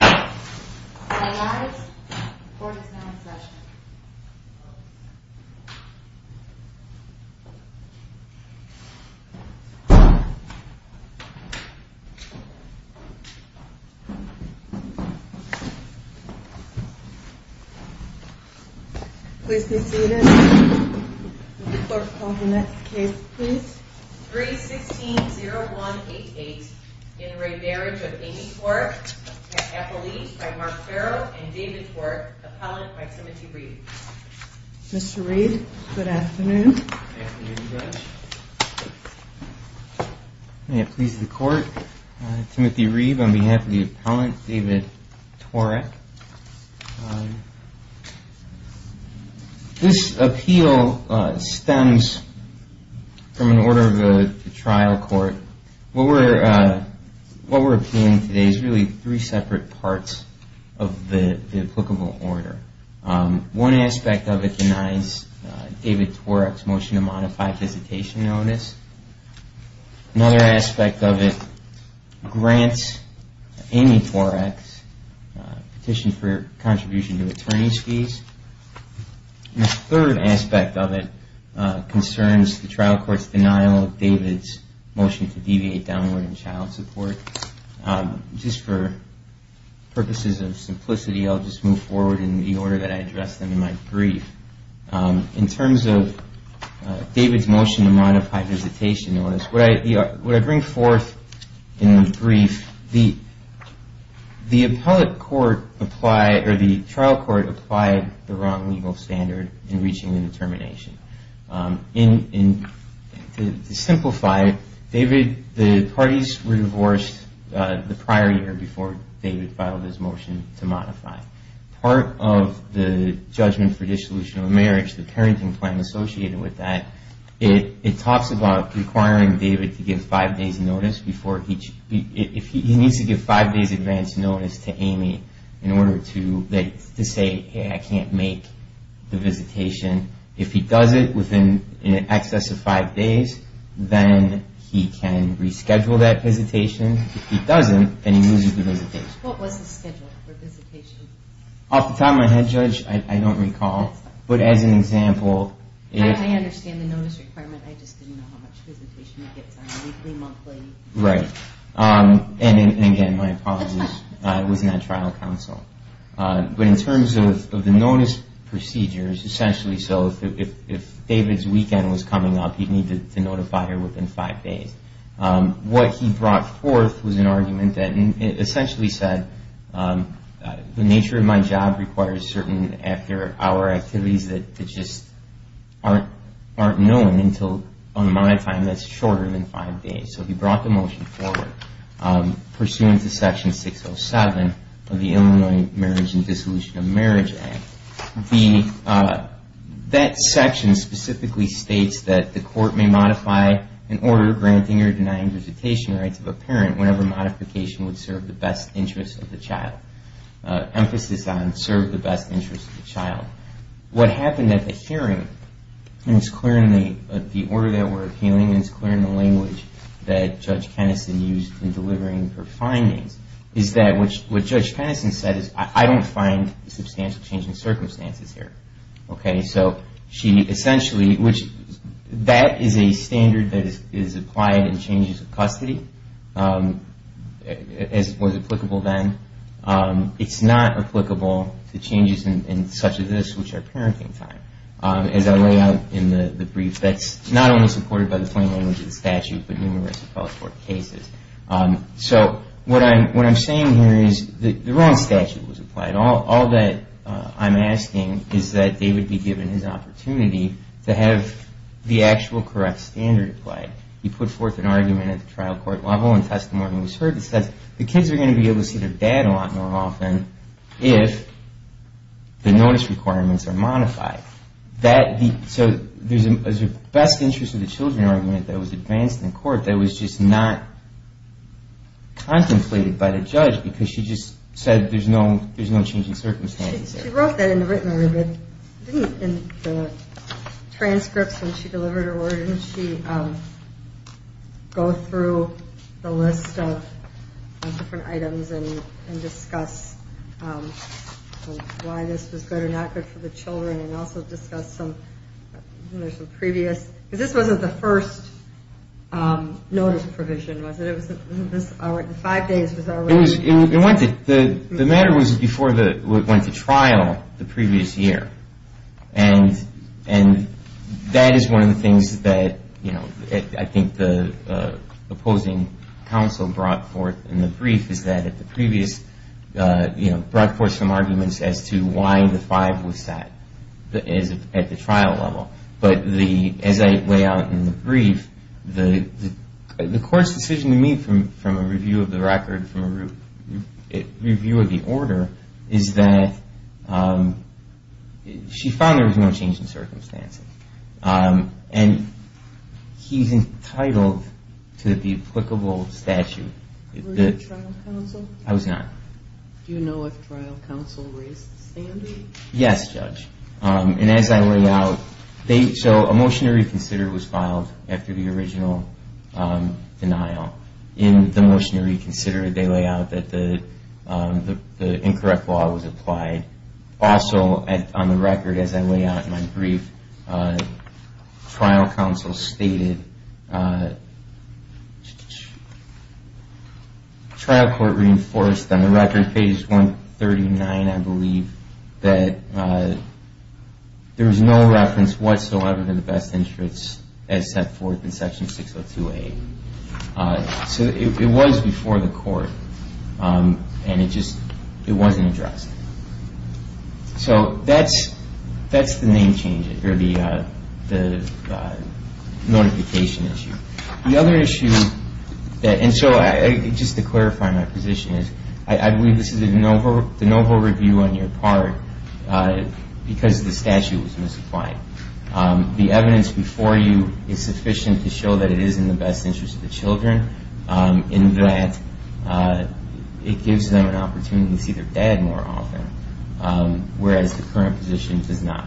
All rise. Court is now in session. Please be seated. Will the clerk call the next case, please? 3-16-0188 In re Marriage of Amy Tworek, Appellee by Mark Farrell and David Tworek, Appellant by Timothy Reeve. Mr. Reeve, good afternoon. Good afternoon, Judge. May it please the Court, Timothy Reeve on behalf of the appellant, David Tworek. This appeal stems from an order of the trial court. What we're appealing today is really three separate parts of the applicable order. One aspect of it denies David Tworek's motion to modify visitation notice. Another aspect of it grants Amy Tworek's petition for contribution to attorney's fees. The third aspect of it concerns the trial court's denial of David's motion to deviate downward in child support. Just for purposes of simplicity, I'll just move forward in the order that I addressed them in my brief. In terms of David's motion to modify visitation notice, what I bring forth in the brief, the trial court applied the wrong legal standard in reaching the determination. To simplify, the parties were divorced the prior year before David filed his motion to modify. Part of the judgment for dissolution of marriage, the parenting plan associated with that, it talks about requiring David to give five days' advance notice to Amy in order to say, I can't make the visitation. If he does it within in excess of five days, then he can reschedule that visitation. If he doesn't, then he loses the visitation. What was the schedule for visitation? At the time I had, Judge, I don't recall. But as an example... I understand the notice requirement. I just didn't know how much visitation he gets on a weekly, monthly... Right. And again, my apologies. I was not trial counsel. But in terms of the notice procedures, essentially so if David's weekend was coming up, he'd need to notify her within five days. What he brought forth was an argument that essentially said, the nature of my job requires certain after-hour activities that just aren't known until, on my time, that's shorter than five days. So he brought the motion forward pursuant to Section 607 of the Illinois Marriage and Dissolution of Marriage Act. That section specifically states that the court may modify an order granting or denying visitation rights of a parent whenever modification would serve the best interest of the child. Emphasis on serve the best interest of the child. What happened at the hearing, and it's clear in the order that we're appealing, and it's clear in the language that Judge Kennison used in delivering her findings, is that what Judge Kennison said is, I don't find substantial change in circumstances here. Okay? So she essentially, which that is a standard that is applied in changes of custody, as was applicable then. It's not applicable to changes in such as this, which are parenting time. As I lay out in the brief, that's not only supported by the plain language of the statute, but numerous of fellows court cases. So what I'm saying here is the wrong statute was applied. All that I'm asking is that David be given his opportunity to have the actual correct standard applied. He put forth an argument at the trial court level and testimony was heard that said, the kids are going to be able to see their dad a lot more often if the notice requirements are modified. So there's a best interest of the children argument that was advanced in court that was just not contemplated by the judge because she just said there's no changing circumstances there. She wrote that in the written order, but didn't in the transcripts when she delivered her word, didn't she go through the list of different items and discuss why this was good or not good for the children and also discuss some previous, because this wasn't the first notice provision, was it? The five days was already. The matter was before it went to trial the previous year, and that is one of the things that I think the opposing counsel brought forth in the brief is that the previous brought forth some arguments as to why the five was set at the trial level. But as I lay out in the brief, the court's decision to me from a review of the record, from a review of the order, is that she found there was no change in circumstances. And he's entitled to the applicable statute. Were you trial counsel? I was not. Do you know if trial counsel raised the standard? Yes, Judge. And as I lay out, so a motion to reconsider was filed after the original denial. In the motion to reconsider, they lay out that the incorrect law was applied. Also, on the record, as I lay out in my brief, trial counsel stated, trial court reinforced on the record, page 139, I believe, that there was no reference whatsoever to the best interest as set forth in section 602A. So it was before the court, and it just wasn't addressed. So that's the name change, or the notification issue. The other issue, and so just to clarify my position, I believe this is the novel review on your part because the statute was misapplied. The evidence before you is sufficient to show that it is in the best interest of the children, in that it gives them an opportunity to see their dad more often, whereas the current position does not.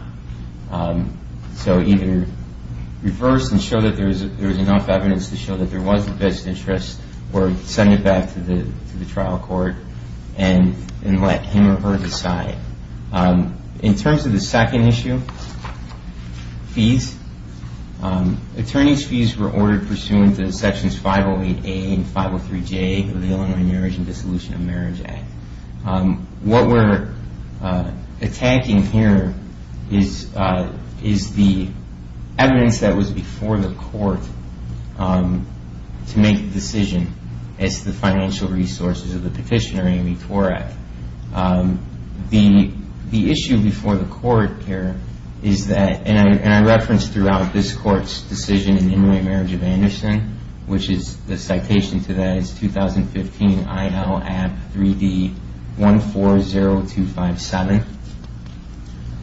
So either reverse and show that there is enough evidence to show that there was a best interest, or send it back to the trial court and let him or her decide. In terms of the second issue, fees, attorney's fees were ordered pursuant to sections 508A and 503J of the Illinois Marriage and Dissolution of Marriage Act. What we're attacking here is the evidence that was before the court to make the decision as to the financial resources of the petitioner, Amy Torek. The issue before the court here is that, and I referenced throughout this court's decision in Illinois Marriage of Anderson, which is the citation to that is 2015 INL App 3D 140257.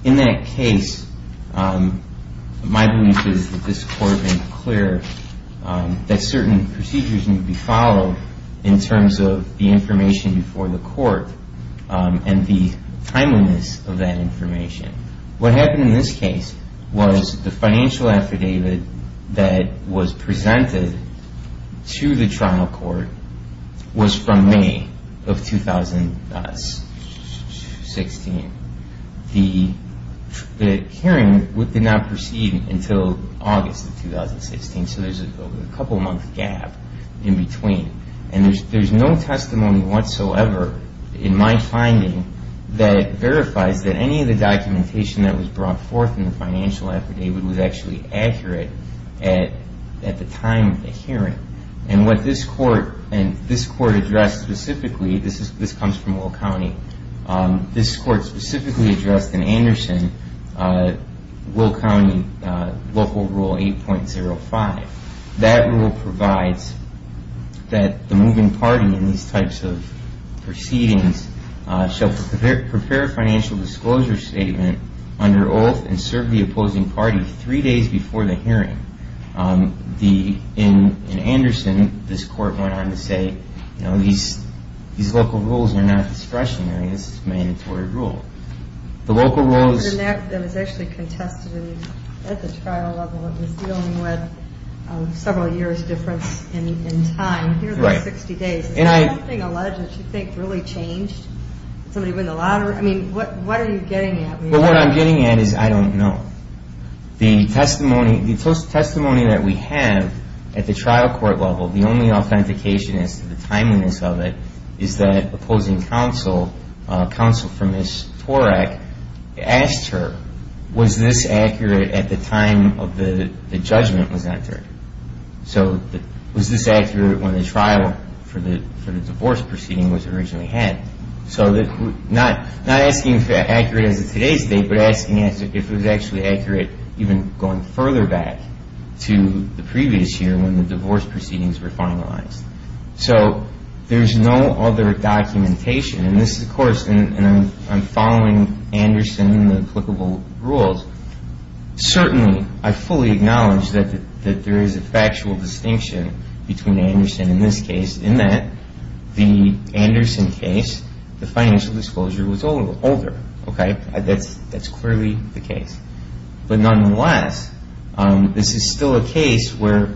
In that case, my belief is that this court has been clear that certain procedures need to be followed in terms of the information before the court and the timeliness of that information. What happened in this case was the financial affidavit that was presented to the trial court was from May of 2016. The hearing did not proceed until August of 2016, so there's a couple month gap in between. There's no testimony whatsoever in my finding that verifies that any of the documentation that was brought forth in the financial affidavit was actually accurate at the time of the hearing. What this court addressed specifically, this comes from Will County, this court specifically addressed in Anderson Will County Local Rule 8.05. That rule provides that the moving party in these types of proceedings shall prepare a financial disclosure statement under oath and serve the opposing party three days before the hearing. In Anderson, this court went on to say, you know, these local rules are not discretionary. This is a mandatory rule. The local rules... It was actually contested at the trial level. It was dealing with several years difference in time. Here's the 60 days. Has something alleged that you think really changed? Did somebody win the lottery? I mean, what are you getting at? What I'm getting at is I don't know. The testimony that we have at the trial court level, the only authentication as to the timeliness of it, is that opposing counsel, counsel for Ms. Torek, asked her, was this accurate at the time of the judgment was entered? So was this accurate when the trial for the divorce proceeding was originally had? So not asking if it was accurate as of today's date, but asking if it was actually accurate even going further back to the previous year when the divorce proceedings were finalized. So there's no other documentation. And this is, of course, and I'm following Anderson and the applicable rules. Certainly, I fully acknowledge that there is a factual distinction between Anderson in this case in that the Anderson case, the financial disclosure was older. That's clearly the case. But nonetheless, this is still a case where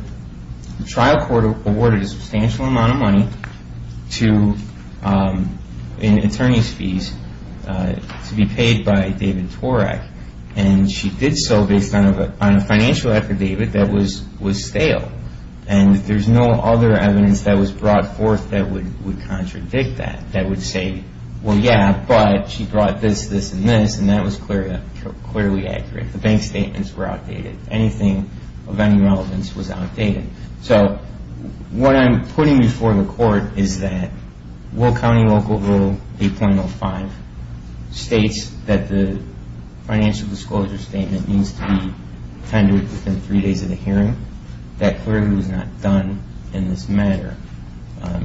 the trial court awarded a substantial amount of money in attorney's fees to be paid by David Torek. And she did so based on a financial affidavit that was stale. And there's no other evidence that was brought forth that would contradict that, that would say, well, yeah, but she brought this, this, and this, and that was clearly accurate. The bank statements were outdated. Anything of any relevance was outdated. So what I'm putting before the court is that Will County Local Rule 8.05 states that the financial disclosure statement needs to be tendered within three days of the hearing. That clearly was not done in this matter.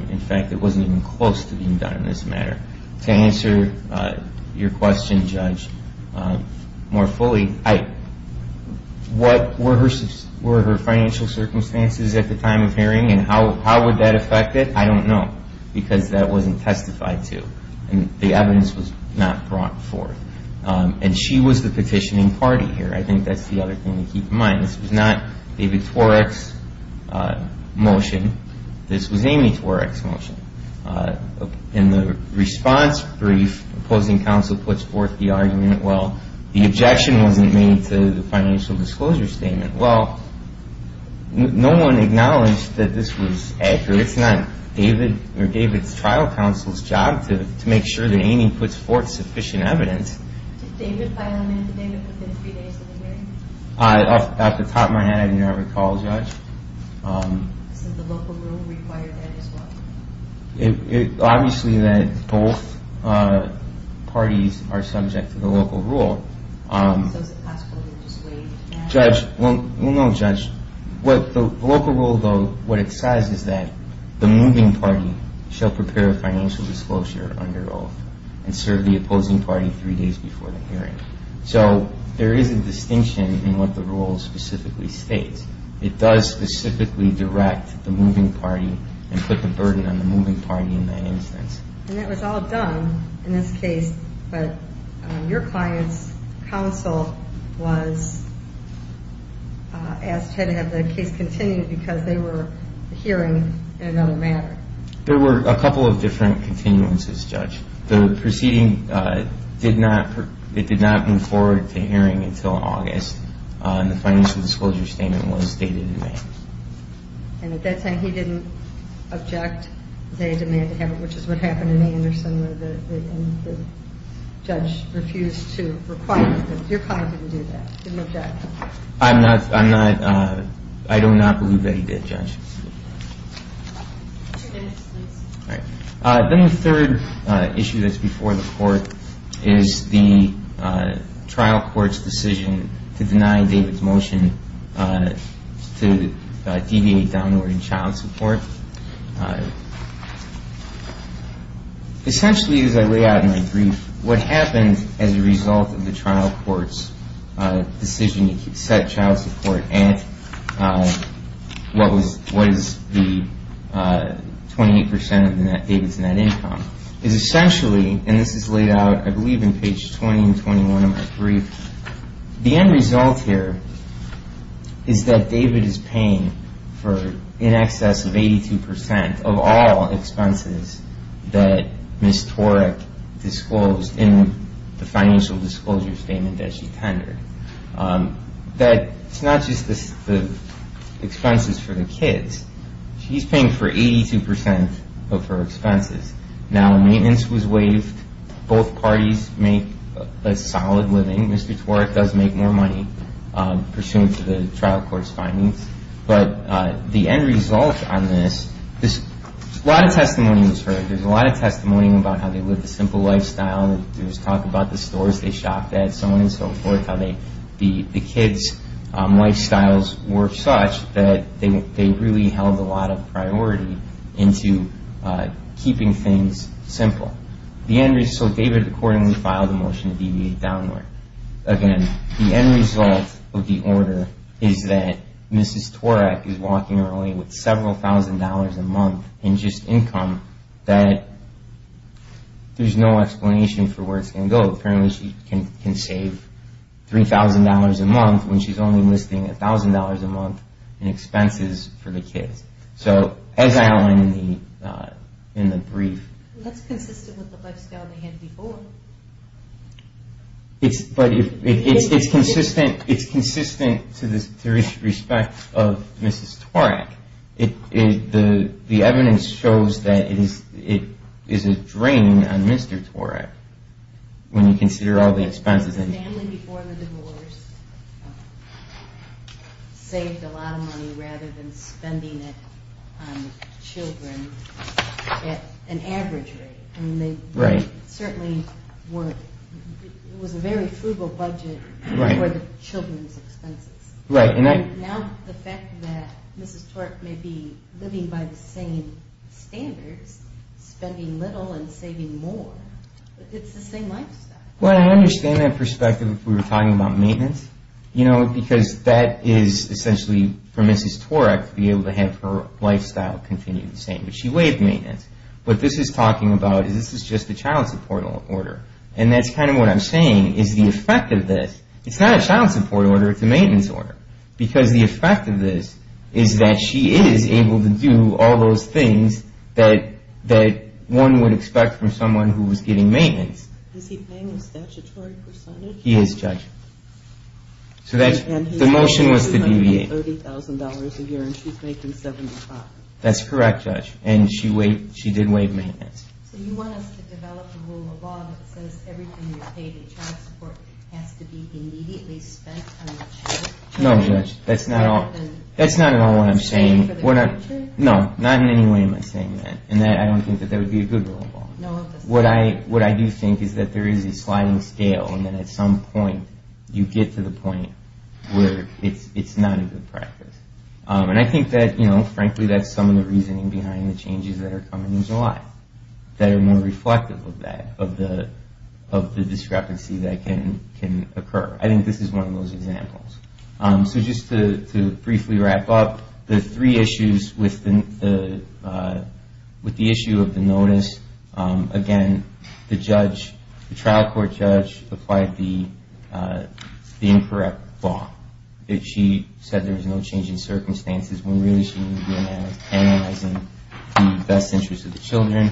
In fact, it wasn't even close to being done in this matter. To answer your question, Judge, more fully, what were her financial circumstances at the time of hearing and how would that affect it? I don't know because that wasn't testified to. And the evidence was not brought forth. And she was the petitioning party here. I think that's the other thing to keep in mind. This was not David Tworek's motion. This was Amy Tworek's motion. In the response brief, opposing counsel puts forth the argument, well, the objection wasn't made to the financial disclosure statement. Well, no one acknowledged that this was accurate. It's not David or David's trial counsel's job to make sure that Amy puts forth sufficient evidence. Did David file an affidavit within three days of the hearing? Off the top of my head, I didn't have a call, Judge. So the local rule required that as well? Obviously, both parties are subject to the local rule. So is it possible to just waive that? Well, no, Judge. The local rule, though, what it says is that the moving party shall prepare a financial disclosure under oath and serve the opposing party three days before the hearing. So there is a distinction in what the rule specifically states. It does specifically direct the moving party and put the burden on the moving party in that instance. And that was all done in this case, but your client's counsel was asked to have the case continued because they were hearing in another matter. The proceeding did not move forward to hearing until August. And the financial disclosure statement was dated in May. And at that time, he didn't object to the demand to have it, which is what happened in Anderson where the judge refused to require it. Your client didn't do that, didn't object. I'm not – I don't not believe that he did, Judge. Two minutes, please. All right. Then the third issue that's before the court is the trial court's decision to deny David's motion to deviate downward in child support. Essentially, as I lay out in my brief, what happened as a result of the trial court's decision to set child support at what was the 28% of David's net income is essentially, and this is laid out I believe in page 20 and 21 of my brief, the end result here is that David is paying for in excess of 82% of all expenses that Ms. Torek disclosed in the financial disclosure statement that she tendered. That it's not just the expenses for the kids. She's paying for 82% of her expenses. Now, maintenance was waived. Both parties make a solid living. Mr. Torek does make more money pursuant to the trial court's findings. There's a lot of testimony about how they lived a simple lifestyle. There's talk about the stores they shopped at, so on and so forth, how the kids' lifestyles were such that they really held a lot of priority into keeping things simple. So David accordingly filed a motion to deviate downward. Again, the end result of the order is that Mrs. Torek is walking early with several thousand dollars a month in just income that there's no explanation for where it's going to go. Apparently she can save $3,000 a month when she's only listing $1,000 a month in expenses for the kids. So as I outlined in the brief. That's consistent with the lifestyle they had before. But it's consistent to the respect of Mrs. Torek. The evidence shows that it is a drain on Mr. Torek when you consider all the expenses. The family before the divorce saved a lot of money rather than spending it on children at an average rate. It was a very frugal budget for the children's expenses. Now the fact that Mrs. Torek may be living by the same standards, spending little and saving more, it's the same lifestyle. Well, I understand that perspective if we were talking about maintenance. Because that is essentially for Mrs. Torek to be able to have her lifestyle continue the same. But she waived maintenance. What this is talking about is this is just a child support order. And that's kind of what I'm saying is the effect of this. It's not a child support order. It's a maintenance order. Because the effect of this is that she is able to do all those things that one would expect from someone who was getting maintenance. Is he paying a statutory percentage? He is, Judge. So the motion was to deviate. $230,000 a year and she's making $75,000. That's correct, Judge. And she did waive maintenance. So you want us to develop a rule of law that says everything you pay to child support has to be immediately spent on the child? No, Judge. That's not at all what I'm saying. No, not in any way am I saying that. And I don't think that that would be a good rule of law. No, it doesn't. What I do think is that there is a sliding scale and that at some point you get to the point where it's not a good practice. And I think that, frankly, that's some of the reasoning behind the changes that are coming in July that are more reflective of that, of the discrepancy that can occur. I think this is one of those examples. So just to briefly wrap up, the three issues with the issue of the notice, again, the trial court judge applied the incorrect law. She said there was no change in circumstances when really she was analyzing the best interest of the children.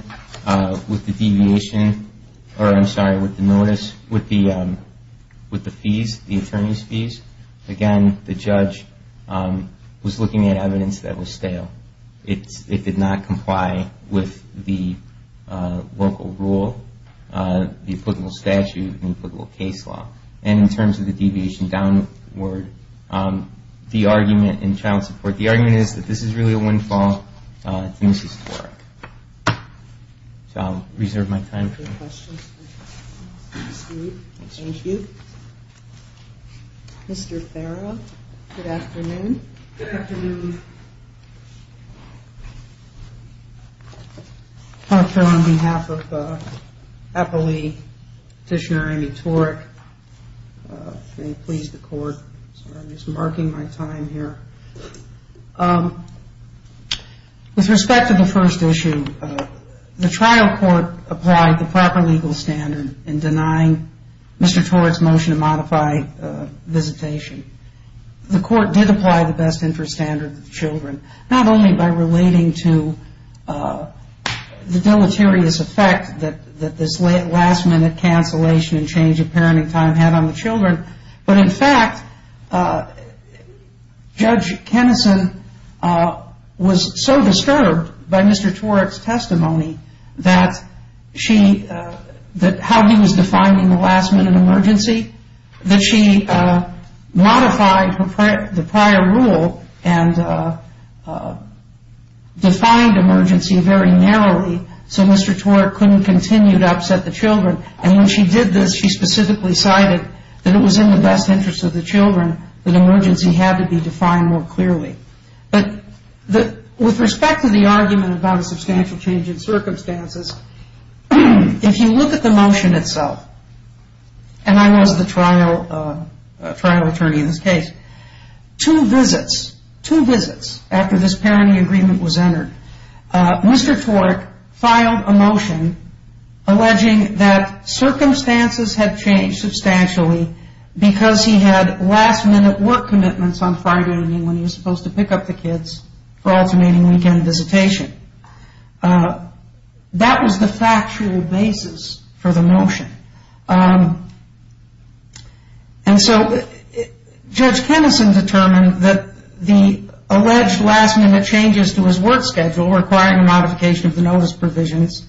With the deviation or, I'm sorry, with the notice, with the fees, the attorney's fees, again, the judge was looking at evidence that was stale. It did not comply with the local rule, the applicable statute and applicable case law. And in terms of the deviation downward, the argument in child support, the argument is that this is really a windfall and it's historic. So I'll reserve my time for questions. Thank you. Mr. Farah, good afternoon. Good afternoon. Thank you. Dr. Farah, on behalf of Eppley Petitioner Amy Torek, I'm going to please the court. I'm just marking my time here. With respect to the first issue, the trial court applied the proper legal standard in denying Mr. Torek's motion to modify visitation. The court did apply the best interest standard to the children, not only by relating to the deleterious effect that this last-minute cancellation and change of parenting time had on the children, but in fact, Judge Kenison was so disturbed by Mr. Torek's testimony that she modified the prior rule and defined emergency very narrowly so Mr. Torek couldn't continue to upset the children. And when she did this, she specifically cited that it was in the best interest of the children that emergency had to be defined more clearly. But with respect to the argument about a substantial change in circumstances, if you look at the motion itself, and I was the trial attorney in this case, two visits, two visits after this parenting agreement was entered, Mr. Torek filed a motion alleging that circumstances had changed substantially because he had last-minute work commitments on Friday when he was supposed to pick up the kids for alternating weekend visitation. That was the factual basis for the motion. And so Judge Kenison determined that the alleged last-minute changes to his work schedule, requiring a modification of the notice provisions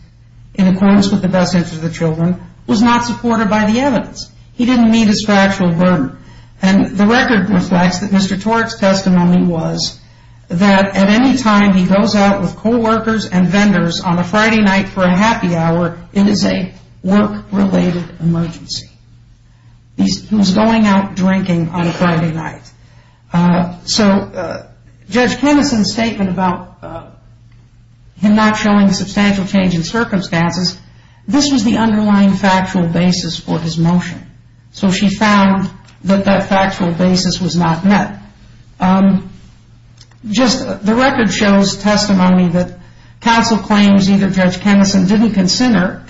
in accordance with the best interest of the children, was not supported by the evidence. He didn't meet his factual burden. And the record reflects that Mr. Torek's testimony was that at any time he goes out with coworkers and vendors on a Friday night for a happy hour, it is a work-related emergency. He was going out drinking on a Friday night. So Judge Kenison's statement about him not showing substantial change in circumstances, this was the underlying factual basis for his motion. So she found that that factual basis was not met. Just the record shows testimony that counsel claims either Judge Kenison didn't consider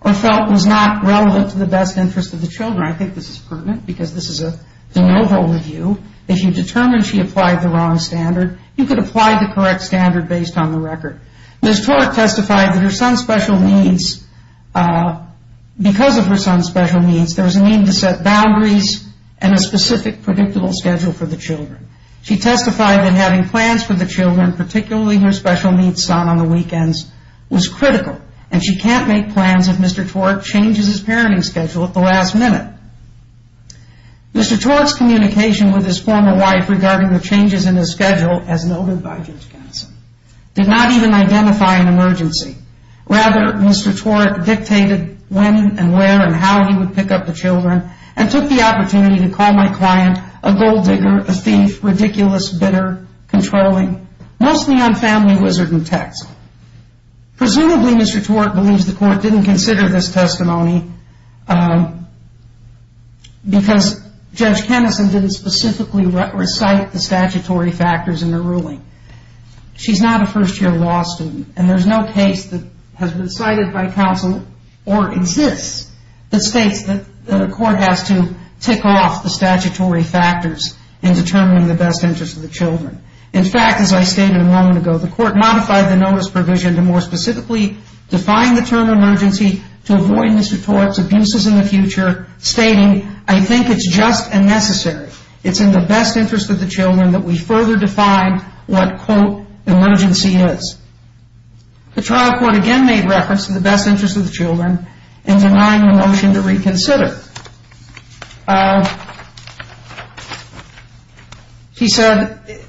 or felt was not relevant to the best interest of the children. I think this is pertinent because this is a de novo review. If you determine she applied the wrong standard, you could apply the correct standard based on the record. Ms. Torek testified that because of her son's special needs, there was a need to set boundaries and a specific predictable schedule for the children. She testified that having plans for the children, particularly her special needs son on the weekends, was critical. And she can't make plans if Mr. Torek changes his parenting schedule at the last minute. Mr. Torek's communication with his former wife regarding the changes in his schedule, as noted by Judge Kenison, did not even identify an emergency. Rather, Mr. Torek dictated when and where and how he would pick up the children and took the opportunity to call my client a gold digger, a thief, ridiculous, bitter, controlling, mostly on family wizarding texts. Presumably Mr. Torek believes the court didn't consider this testimony because Judge Kenison didn't specifically recite the statutory factors in her ruling. She's not a first-year law student, and there's no case that has been cited by counsel or exists that states that the court has to tick off the statutory factors in determining the best interest of the children. In fact, as I stated a moment ago, the court modified the notice provision to more specifically define the term emergency to avoid Mr. Torek's abuses in the future, stating, I think it's just and necessary. It's in the best interest of the children that we further define what, quote, emergency is. The trial court again made reference to the best interest of the children in denying the motion to reconsider. She said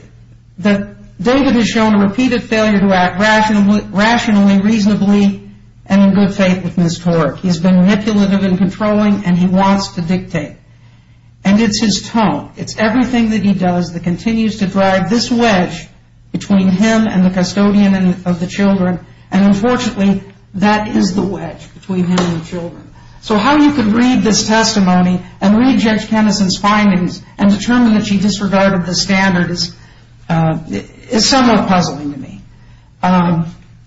that David has shown a repeated failure to act rationally, reasonably, and in good faith with Ms. Torek. He's been manipulative and controlling, and he wants to dictate. And it's his tone, it's everything that he does that continues to drive this wedge between him and the custodian of the children, and unfortunately that is the wedge between him and the children. So how you could read this testimony and read Judge Kenison's findings and determine that she disregarded the standard is somewhat puzzling to me.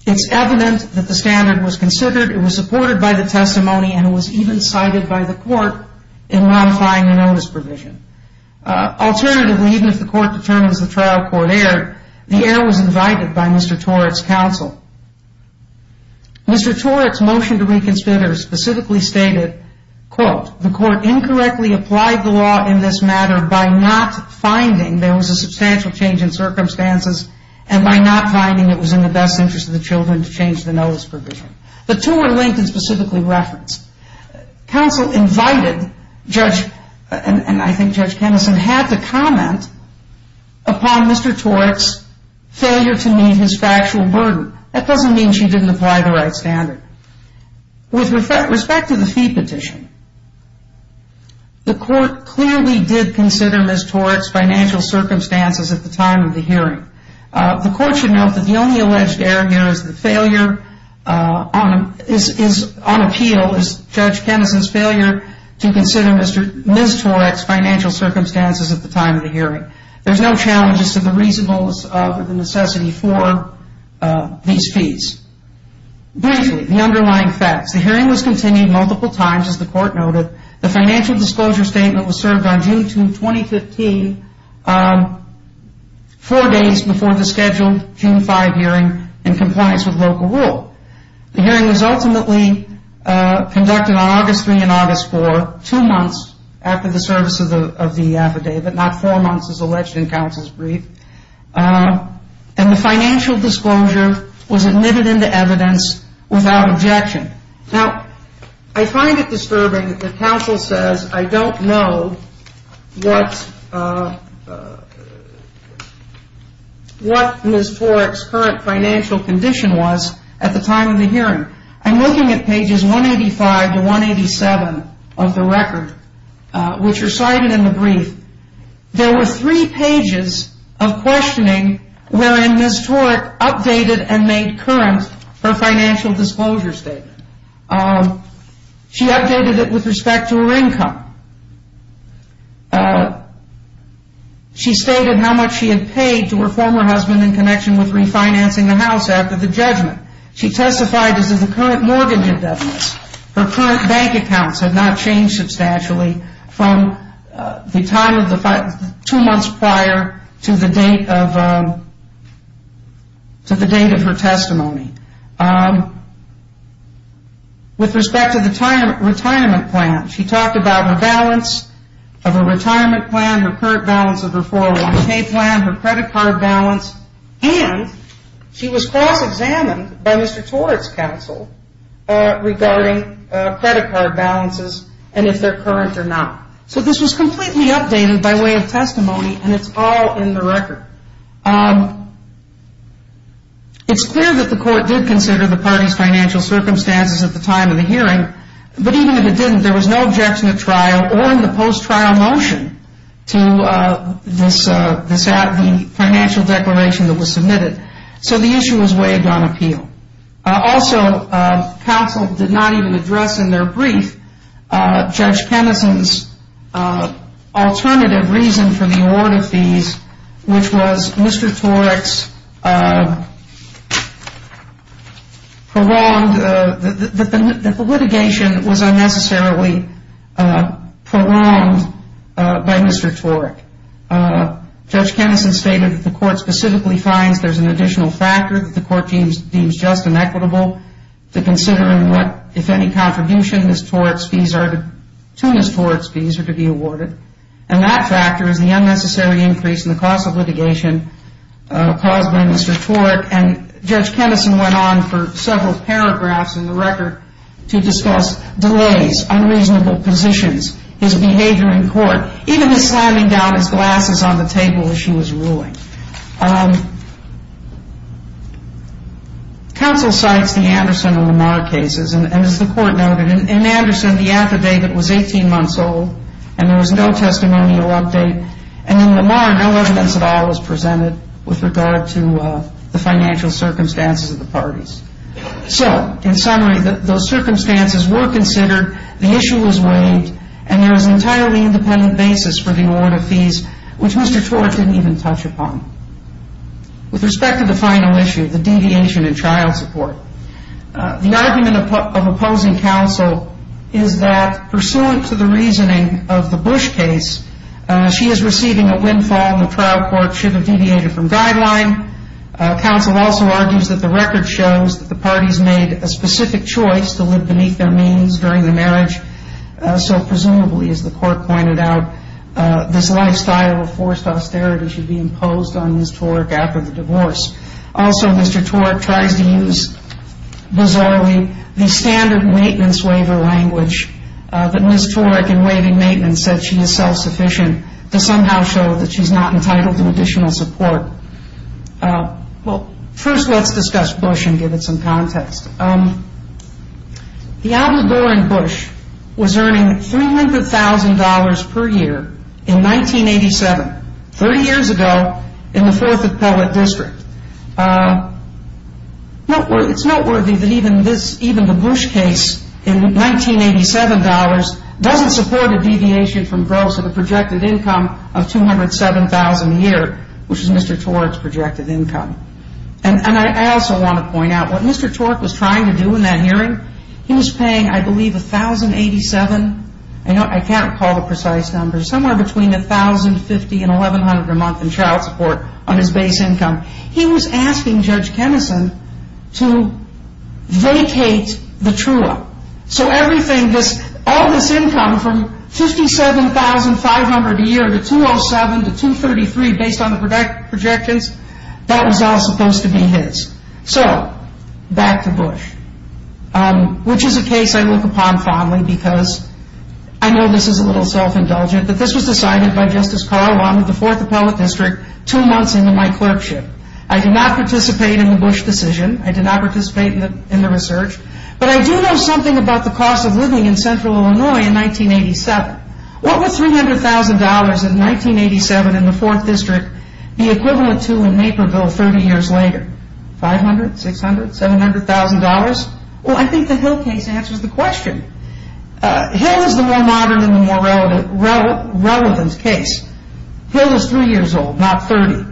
It's evident that the standard was considered, it was supported by the testimony, and it was even cited by the court in modifying the notice provision. Alternatively, even if the court determines the trial court erred, the error was invited by Mr. Torek's counsel. Mr. Torek's motion to reconsider specifically stated, quote, the court incorrectly applied the law in this matter by not finding there was a substantial change in circumstances and by not finding it was in the best interest of the children to change the notice provision. The two were linked and specifically referenced. Counsel invited Judge, and I think Judge Kenison, had to comment upon Mr. Torek's failure to meet his factual burden. That doesn't mean she didn't apply the right standard. With respect to the fee petition, the court clearly did consider Ms. Torek's financial circumstances at the time of the hearing. The court should note that the only alleged error here is the failure on appeal, is Judge Kenison's failure to consider Ms. Torek's financial circumstances at the time of the hearing. There's no challenges to the reasonableness of the necessity for these fees. Briefly, the underlying facts. The hearing was continued multiple times, as the court noted. The financial disclosure statement was served on June 2, 2015, four days before the scheduled June 5 hearing in compliance with local rule. The hearing was ultimately conducted on August 3 and August 4, two months after the service of the affidavit, not four months as alleged in counsel's brief. And the financial disclosure was admitted into evidence without objection. Now, I find it disturbing that counsel says, I don't know what Ms. Torek's current financial condition was at the time of the hearing. I'm looking at pages 185 to 187 of the record, which are cited in the brief. There were three pages of questioning wherein Ms. Torek updated and made current her financial disclosure statement. She updated it with respect to her income. She stated how much she had paid to her former husband in connection with refinancing the house after the judgment. She testified as if the current mortgage indebtedness, her current bank accounts had not changed substantially from the time two months prior to the date of her testimony. With respect to the retirement plan, she talked about her balance of her retirement plan, her current balance of her 401k plan, her credit card balance, and she was cross-examined by Mr. Torek's counsel regarding credit card balances and if they're current or not. So this was completely updated by way of testimony, and it's all in the record. It's clear that the court did consider the party's financial circumstances at the time of the hearing, but even if it didn't, there was no objection at trial or in the post-trial motion to the financial declaration that was submitted. So the issue was waived on appeal. Also, counsel did not even address in their brief Judge Penison's alternative reason for the award of fees, which was Mr. Torek's prolonged litigation was unnecessarily prolonged by Mr. Torek. Judge Penison stated that the court specifically finds there's an additional factor that the court deems just and equitable to consider if any contribution to Ms. Torek's fees are to be awarded, and that factor is the unnecessary increase in the cost of litigation caused by Mr. Torek, and Judge Penison went on for several paragraphs in the record to discuss delays, unreasonable positions, his behavior in court, even his slamming down his glasses on the table as she was ruling. Counsel cites the Anderson and Lamar cases, and as the court noted, in Anderson the affidavit was 18 months old and there was no testimonial update, and in Lamar no evidence at all was presented with regard to the financial circumstances of the parties. So, in summary, those circumstances were considered, the issue was waived, and there was an entirely independent basis for the award of fees, which Mr. Torek didn't even touch upon. With respect to the final issue, the deviation in trial support, the argument of opposing counsel is that pursuant to the reasoning of the Bush case, she is receiving a windfall and the trial court should have deviated from guideline. Counsel also argues that the record shows that the parties made a specific choice to live beneath their means during the marriage, so presumably, as the court pointed out, this lifestyle of forced austerity should be imposed on Ms. Torek after the divorce. Also, Mr. Torek tries to use, bizarrely, the standard maintenance waiver language that Ms. Torek, in waiving maintenance, said she is self-sufficient to somehow show that she's not entitled to additional support. Well, first let's discuss Bush and give it some context. The Alderman Bush was earning $300,000 per year in 1987, 30 years ago, in the 4th Appellate District. It's noteworthy that even the Bush case, in 1987 dollars, doesn't support a deviation from gross of a projected income of $207,000 a year, which is Mr. Torek's projected income. And I also want to point out, what Mr. Torek was trying to do in that hearing, he was paying, I believe, $1,087,000, I can't recall the precise number, somewhere between $1,050,000 and $1,100,000 a month in child support on his base income. He was asking Judge Kenison to vacate the TRUA. So everything, all this income from $57,500 a year to $207,000 to $233,000, based on the projections, that was all supposed to be his. So, back to Bush, which is a case I look upon fondly, because I know this is a little self-indulgent, but this was decided by Justice Carl Lawton of the 4th Appellate District, two months into my clerkship. I did not participate in the Bush decision. I did not participate in the research. But I do know something about the cost of living in central Illinois in 1987. What would $300,000 in 1987 in the 4th District be equivalent to in Naperville 30 years later? $500,000, $600,000, $700,000? Well, I think the Hill case answers the question. Hill is the more modern and the more relevant case. Hill is three years old, not 30.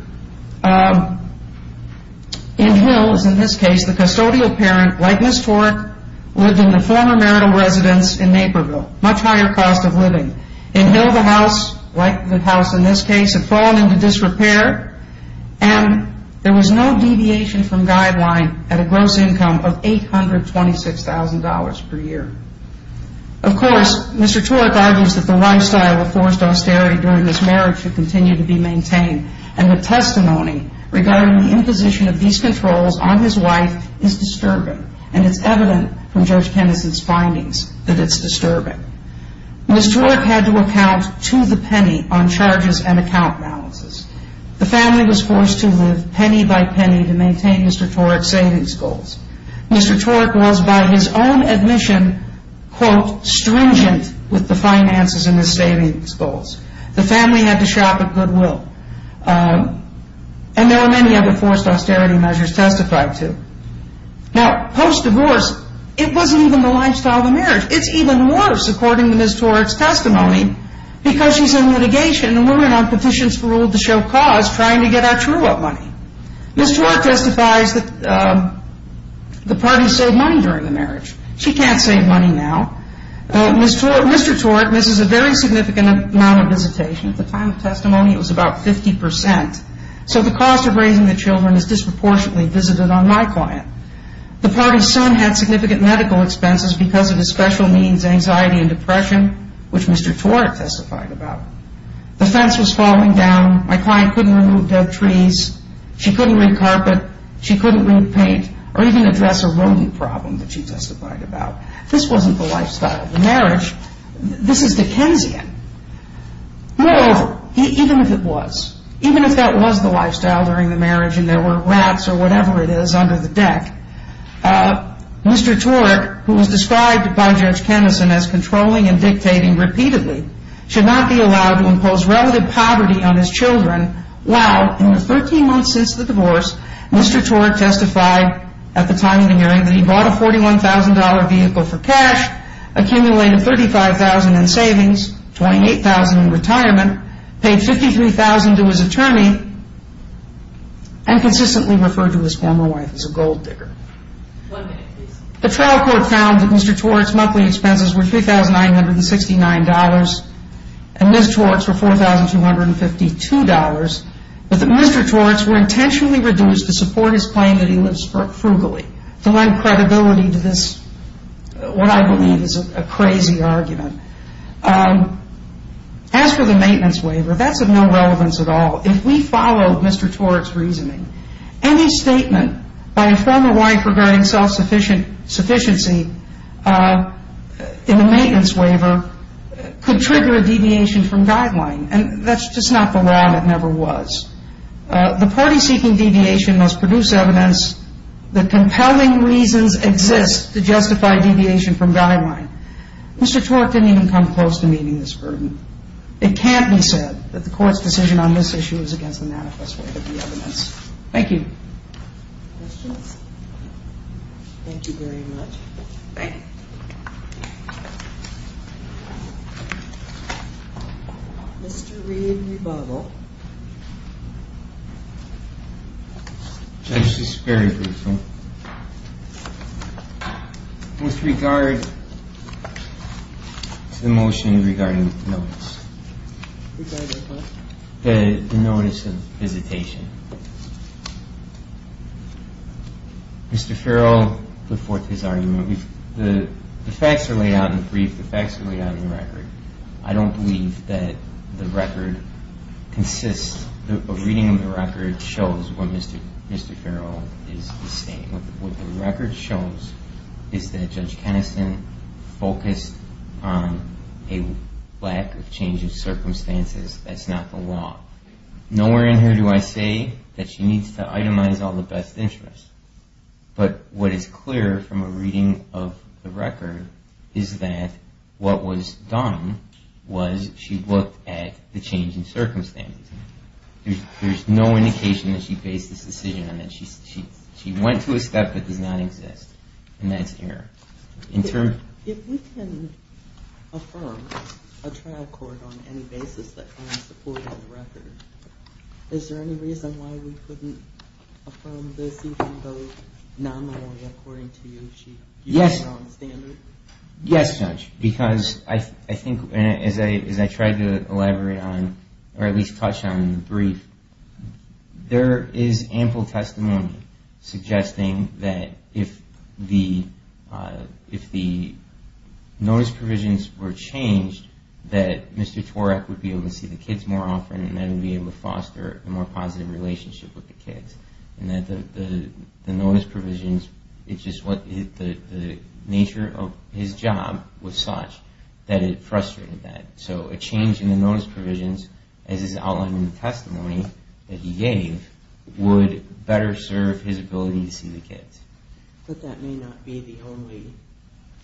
In Hill's, in this case, the custodial parent, like Ms. Tork, lived in the former marital residence in Naperville, much higher cost of living. In Hill, the house, like the house in this case, had fallen into disrepair, and there was no deviation from guideline at a gross income of $826,000 per year. Of course, Mr. Tork argues that the lifestyle of forced austerity during this marriage should continue to be maintained, and the testimony regarding the imposition of these controls on his wife is disturbing, and it's evident from Judge Kennison's findings that it's disturbing. Ms. Tork had to account to the penny on charges and account balances. The family was forced to live penny by penny to maintain Mr. Tork's savings goals. Mr. Tork was, by his own admission, quote, stringent with the finances and his savings goals. The family had to shop at Goodwill, and there were many other forced austerity measures testified to. Now, post-divorce, it wasn't even the lifestyle of the marriage. It's even worse, according to Ms. Tork's testimony, because she's in litigation, and we're in on petitions for rule of the show cause trying to get our true up money. Ms. Tork testifies that the party saved money during the marriage. She can't save money now. Mr. Tork misses a very significant amount of visitation. At the time of testimony, it was about 50 percent. So the cost of raising the children is disproportionately visited on my client. The party's son had significant medical expenses because of his special needs, anxiety, and depression, which Mr. Tork testified about. The fence was falling down. My client couldn't remove dead trees. She couldn't re-carpet. She couldn't re-paint or even address a rooming problem that she testified about. This wasn't the lifestyle of the marriage. This is Dickensian. Moreover, even if it was, even if that was the lifestyle during the marriage and there were rats or whatever it is under the deck, Mr. Tork, who was described by Judge Kennison as controlling and dictating repeatedly, should not be allowed to impose relative poverty on his children while, in the 13 months since the divorce, Mr. Tork testified at the time of the hearing that he bought a $41,000 vehicle for cash, accumulated $35,000 in savings, $28,000 in retirement, paid $53,000 to his attorney, and consistently referred to his former wife as a gold digger. The trial court found that Mr. Tork's monthly expenses were $3,969 and Ms. Tork's were $4,252, but that Mr. Tork's were intentionally reduced to support his claim that he lives frugally, to lend credibility to this, what I believe is a crazy argument. As for the maintenance waiver, that's of no relevance at all. If we follow Mr. Tork's reasoning, any statement by a former wife regarding self-sufficiency in a maintenance waiver could trigger a deviation from guideline, and that's just not the law and it never was. The party seeking deviation must produce evidence that compelling reasons exist to justify deviation from guideline. Mr. Tork didn't even come close to meeting this burden. It can't be said that the court's decision on this issue is against the manifest way of the evidence. Thank you. Questions? Thank you very much. Thank you. Mr. Reed, rebuttal. This is very brutal. With regard to the motion regarding notice. Regarding what? The notice of visitation. Mr. Farrell put forth his argument. The facts are laid out in the brief. The facts are laid out in the record. I don't believe that the record consists. A reading of the record shows what Mr. Farrell is saying. What the record shows is that Judge Keneson focused on a lack of change of circumstances. That's not the law. Nowhere in here do I say that she needs to itemize all the best interests, but what is clear from a reading of the record is that what was done was she looked at the change in circumstances. There's no indication that she based this decision on that. She went to a step that does not exist, and that's error. If we can affirm a trial court on any basis that can support the record, is there any reason why we couldn't affirm this even though not only according to you, she used the wrong standard? Yes, Judge, because I think as I tried to elaborate on, or at least touch on in the brief, there is ample testimony suggesting that if the notice provisions were changed, that Mr. Torek would be able to see the kids more often, and that he would be able to foster a more positive relationship with the kids, and that the notice provisions, the nature of his job was such that it frustrated that. So a change in the notice provisions, as is outlined in the testimony that he gave, would better serve his ability to see the kids. But that may not be the only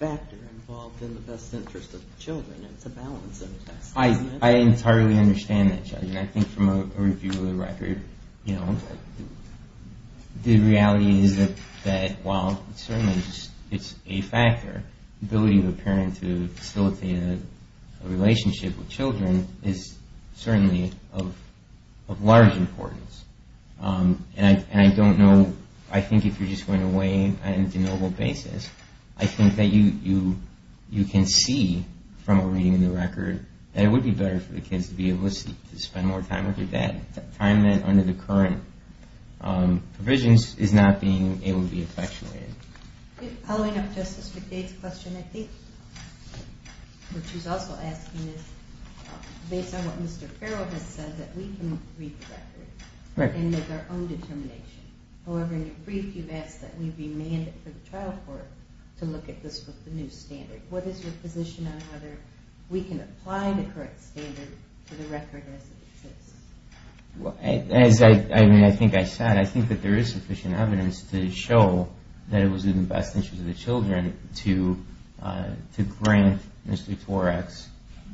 factor involved in the best interest of the children. I entirely understand that, Judge. And I think from a review of the record, you know, the reality is that while certainly it's a factor, the ability of a parent to facilitate a relationship with children is certainly of large importance. And I don't know, I think if you're just going to weigh on a denoble basis, I think that you can see from a reading of the record that it would be better for the kids to be able to spend more time with their dad. The time under the current provisions is not being able to be effectuated. Following up Justice McDade's question, I think what she's also asking is, based on what Mr. Farrell has said, that we can read the record and make our own determination. However, in your brief you've asked that we be named for the trial court to look at this with the new standard. What is your position on whether we can apply the current standard to the record as it exists? As I think I said, I think that there is sufficient evidence to show that it was in the best interest of the children to grant Mr. Torek's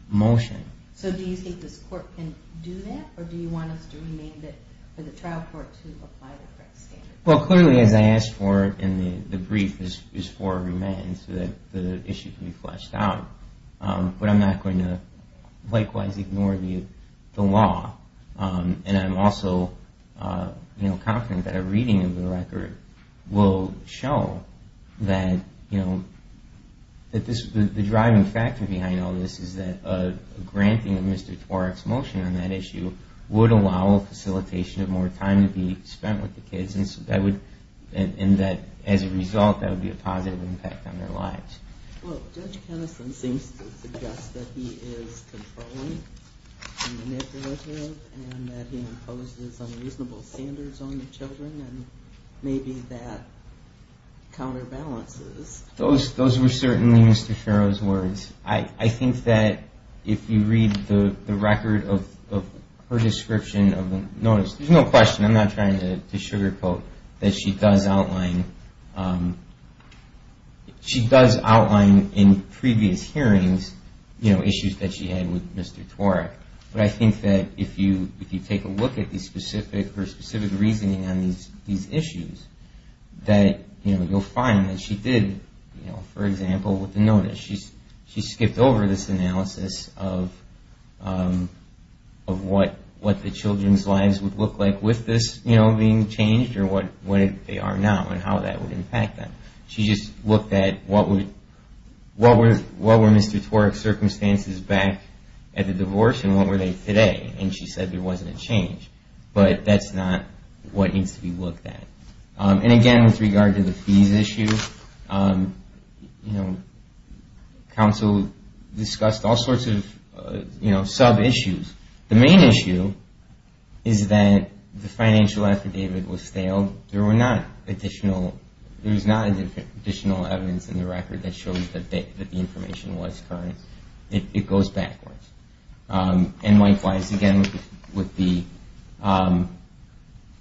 motion. So do you think this court can do that, or do you want us to remain for the trial court to apply the current standard? Well, clearly as I asked for in the brief, it's for a remand so that the issue can be fleshed out. But I'm not going to likewise ignore the law. And I'm also confident that a reading of the record will show that the driving factor behind all this is that a granting of Mr. Torek's motion on that issue would allow a facilitation of more time to be spent with the kids. And that as a result, that would be a positive impact on their lives. Well, Judge Kenison seems to suggest that he is controlling and manipulative, and that he imposes unreasonable standards on the children, and maybe that counterbalances. Those were certainly Mr. Ferro's words. I think that if you read the record of her description of the notice, there's no question, I'm not trying to sugarcoat, that she does outline in previous hearings issues that she had with Mr. Torek. But I think that if you take a look at her specific reasoning on these issues, that you'll find that she did, for example, with the notice. She skipped over this analysis of what the children's lives would look like with this being changed, or what they are now, and how that would impact them. She just looked at what were Mr. Torek's circumstances back at the divorce, and what were they today. And she said there wasn't a change, but that's not what needs to be looked at. And again, with regard to the fees issue, counsel discussed all sorts of sub-issues. The main issue is that the financial affidavit was stale. There was not additional evidence in the record that shows that the information was current. It goes backwards. And likewise, again, with the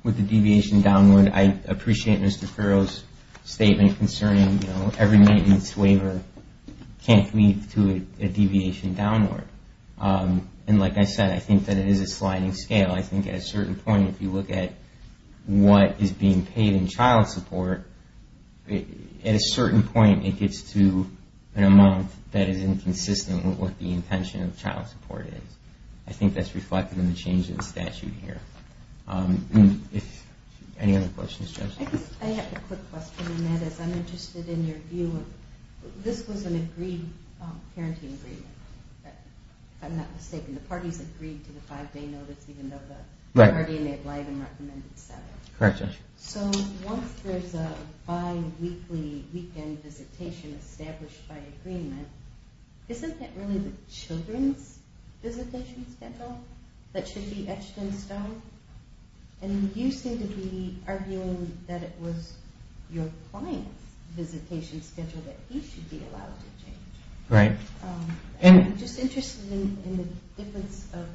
deviation downward, I appreciate Mr. Ferro's statement concerning every maintenance waiver can't lead to a deviation downward. And like I said, I think that it is a sliding scale. I think at a certain point, if you look at what is being paid in child support, at a certain point it gets to an amount that is inconsistent with what the intention of child support is. I think that's reflected in the change in the statute here. Any other questions? I have a quick question on that, as I'm interested in your view. This was an agreed parenting agreement, if I'm not mistaken. The parties agreed to the five-day notice, even though the guardian made live and recommended seven. So once there's a bi-weekly weekend visitation established by agreement, isn't that really the children's visitation schedule that should be etched in stone? And you seem to be arguing that it was your client's visitation schedule that he should be allowed to change. Right. I'm just interested in the difference of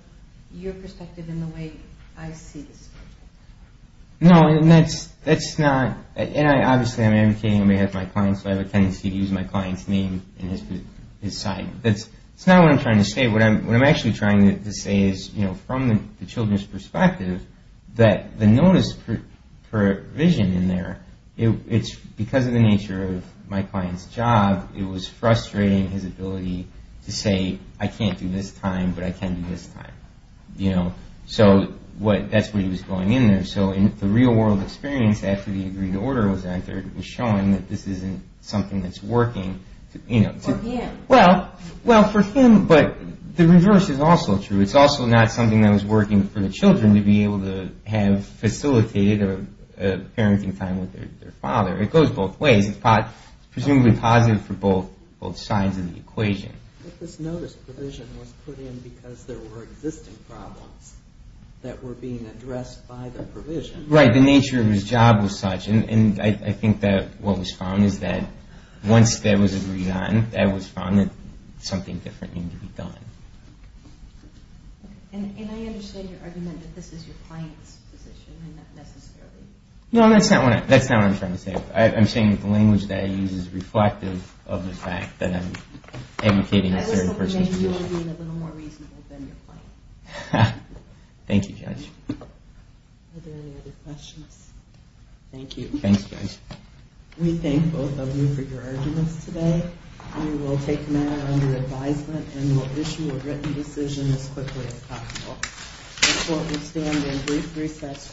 your perspective and the way I see the schedule. No, that's not, and obviously I'm advocating on behalf of my client, so I have a tendency to use my client's name in his sign. That's not what I'm trying to say. What I'm actually trying to say is, from the children's perspective, that the notice provision in there, because of the nature of my client's job, it was frustrating his ability to say, I can't do this time, but I can do this time. So that's where he was going in there. So in the real world experience, after the agreed order was entered, it was showing that this isn't something that's working. Well, for him, but the reverse is also true. It's also not something that was working for the children to be able to have facilitated a parenting time with their father. It goes both ways. It's presumably positive for both sides of the equation. But this notice provision was put in because there were existing problems that were being addressed by the provision. Right. The nature of his job was such, and I think that what was found is that once that was agreed on, that was found that something different needed to be done. And I understand your argument that this is your client's decision and not necessarily yours. No, that's not what I'm trying to say. I'm saying the language that I use is reflective of the fact that I'm educating a certain person. I was hoping that you were being a little more reasonable than your client. Thank you, Judge. Are there any other questions? Thank you. We thank both of you for your arguments today. We will take them out under advisement and will issue a written decision as quickly as possible. The court will stand in brief recess for a panel of change.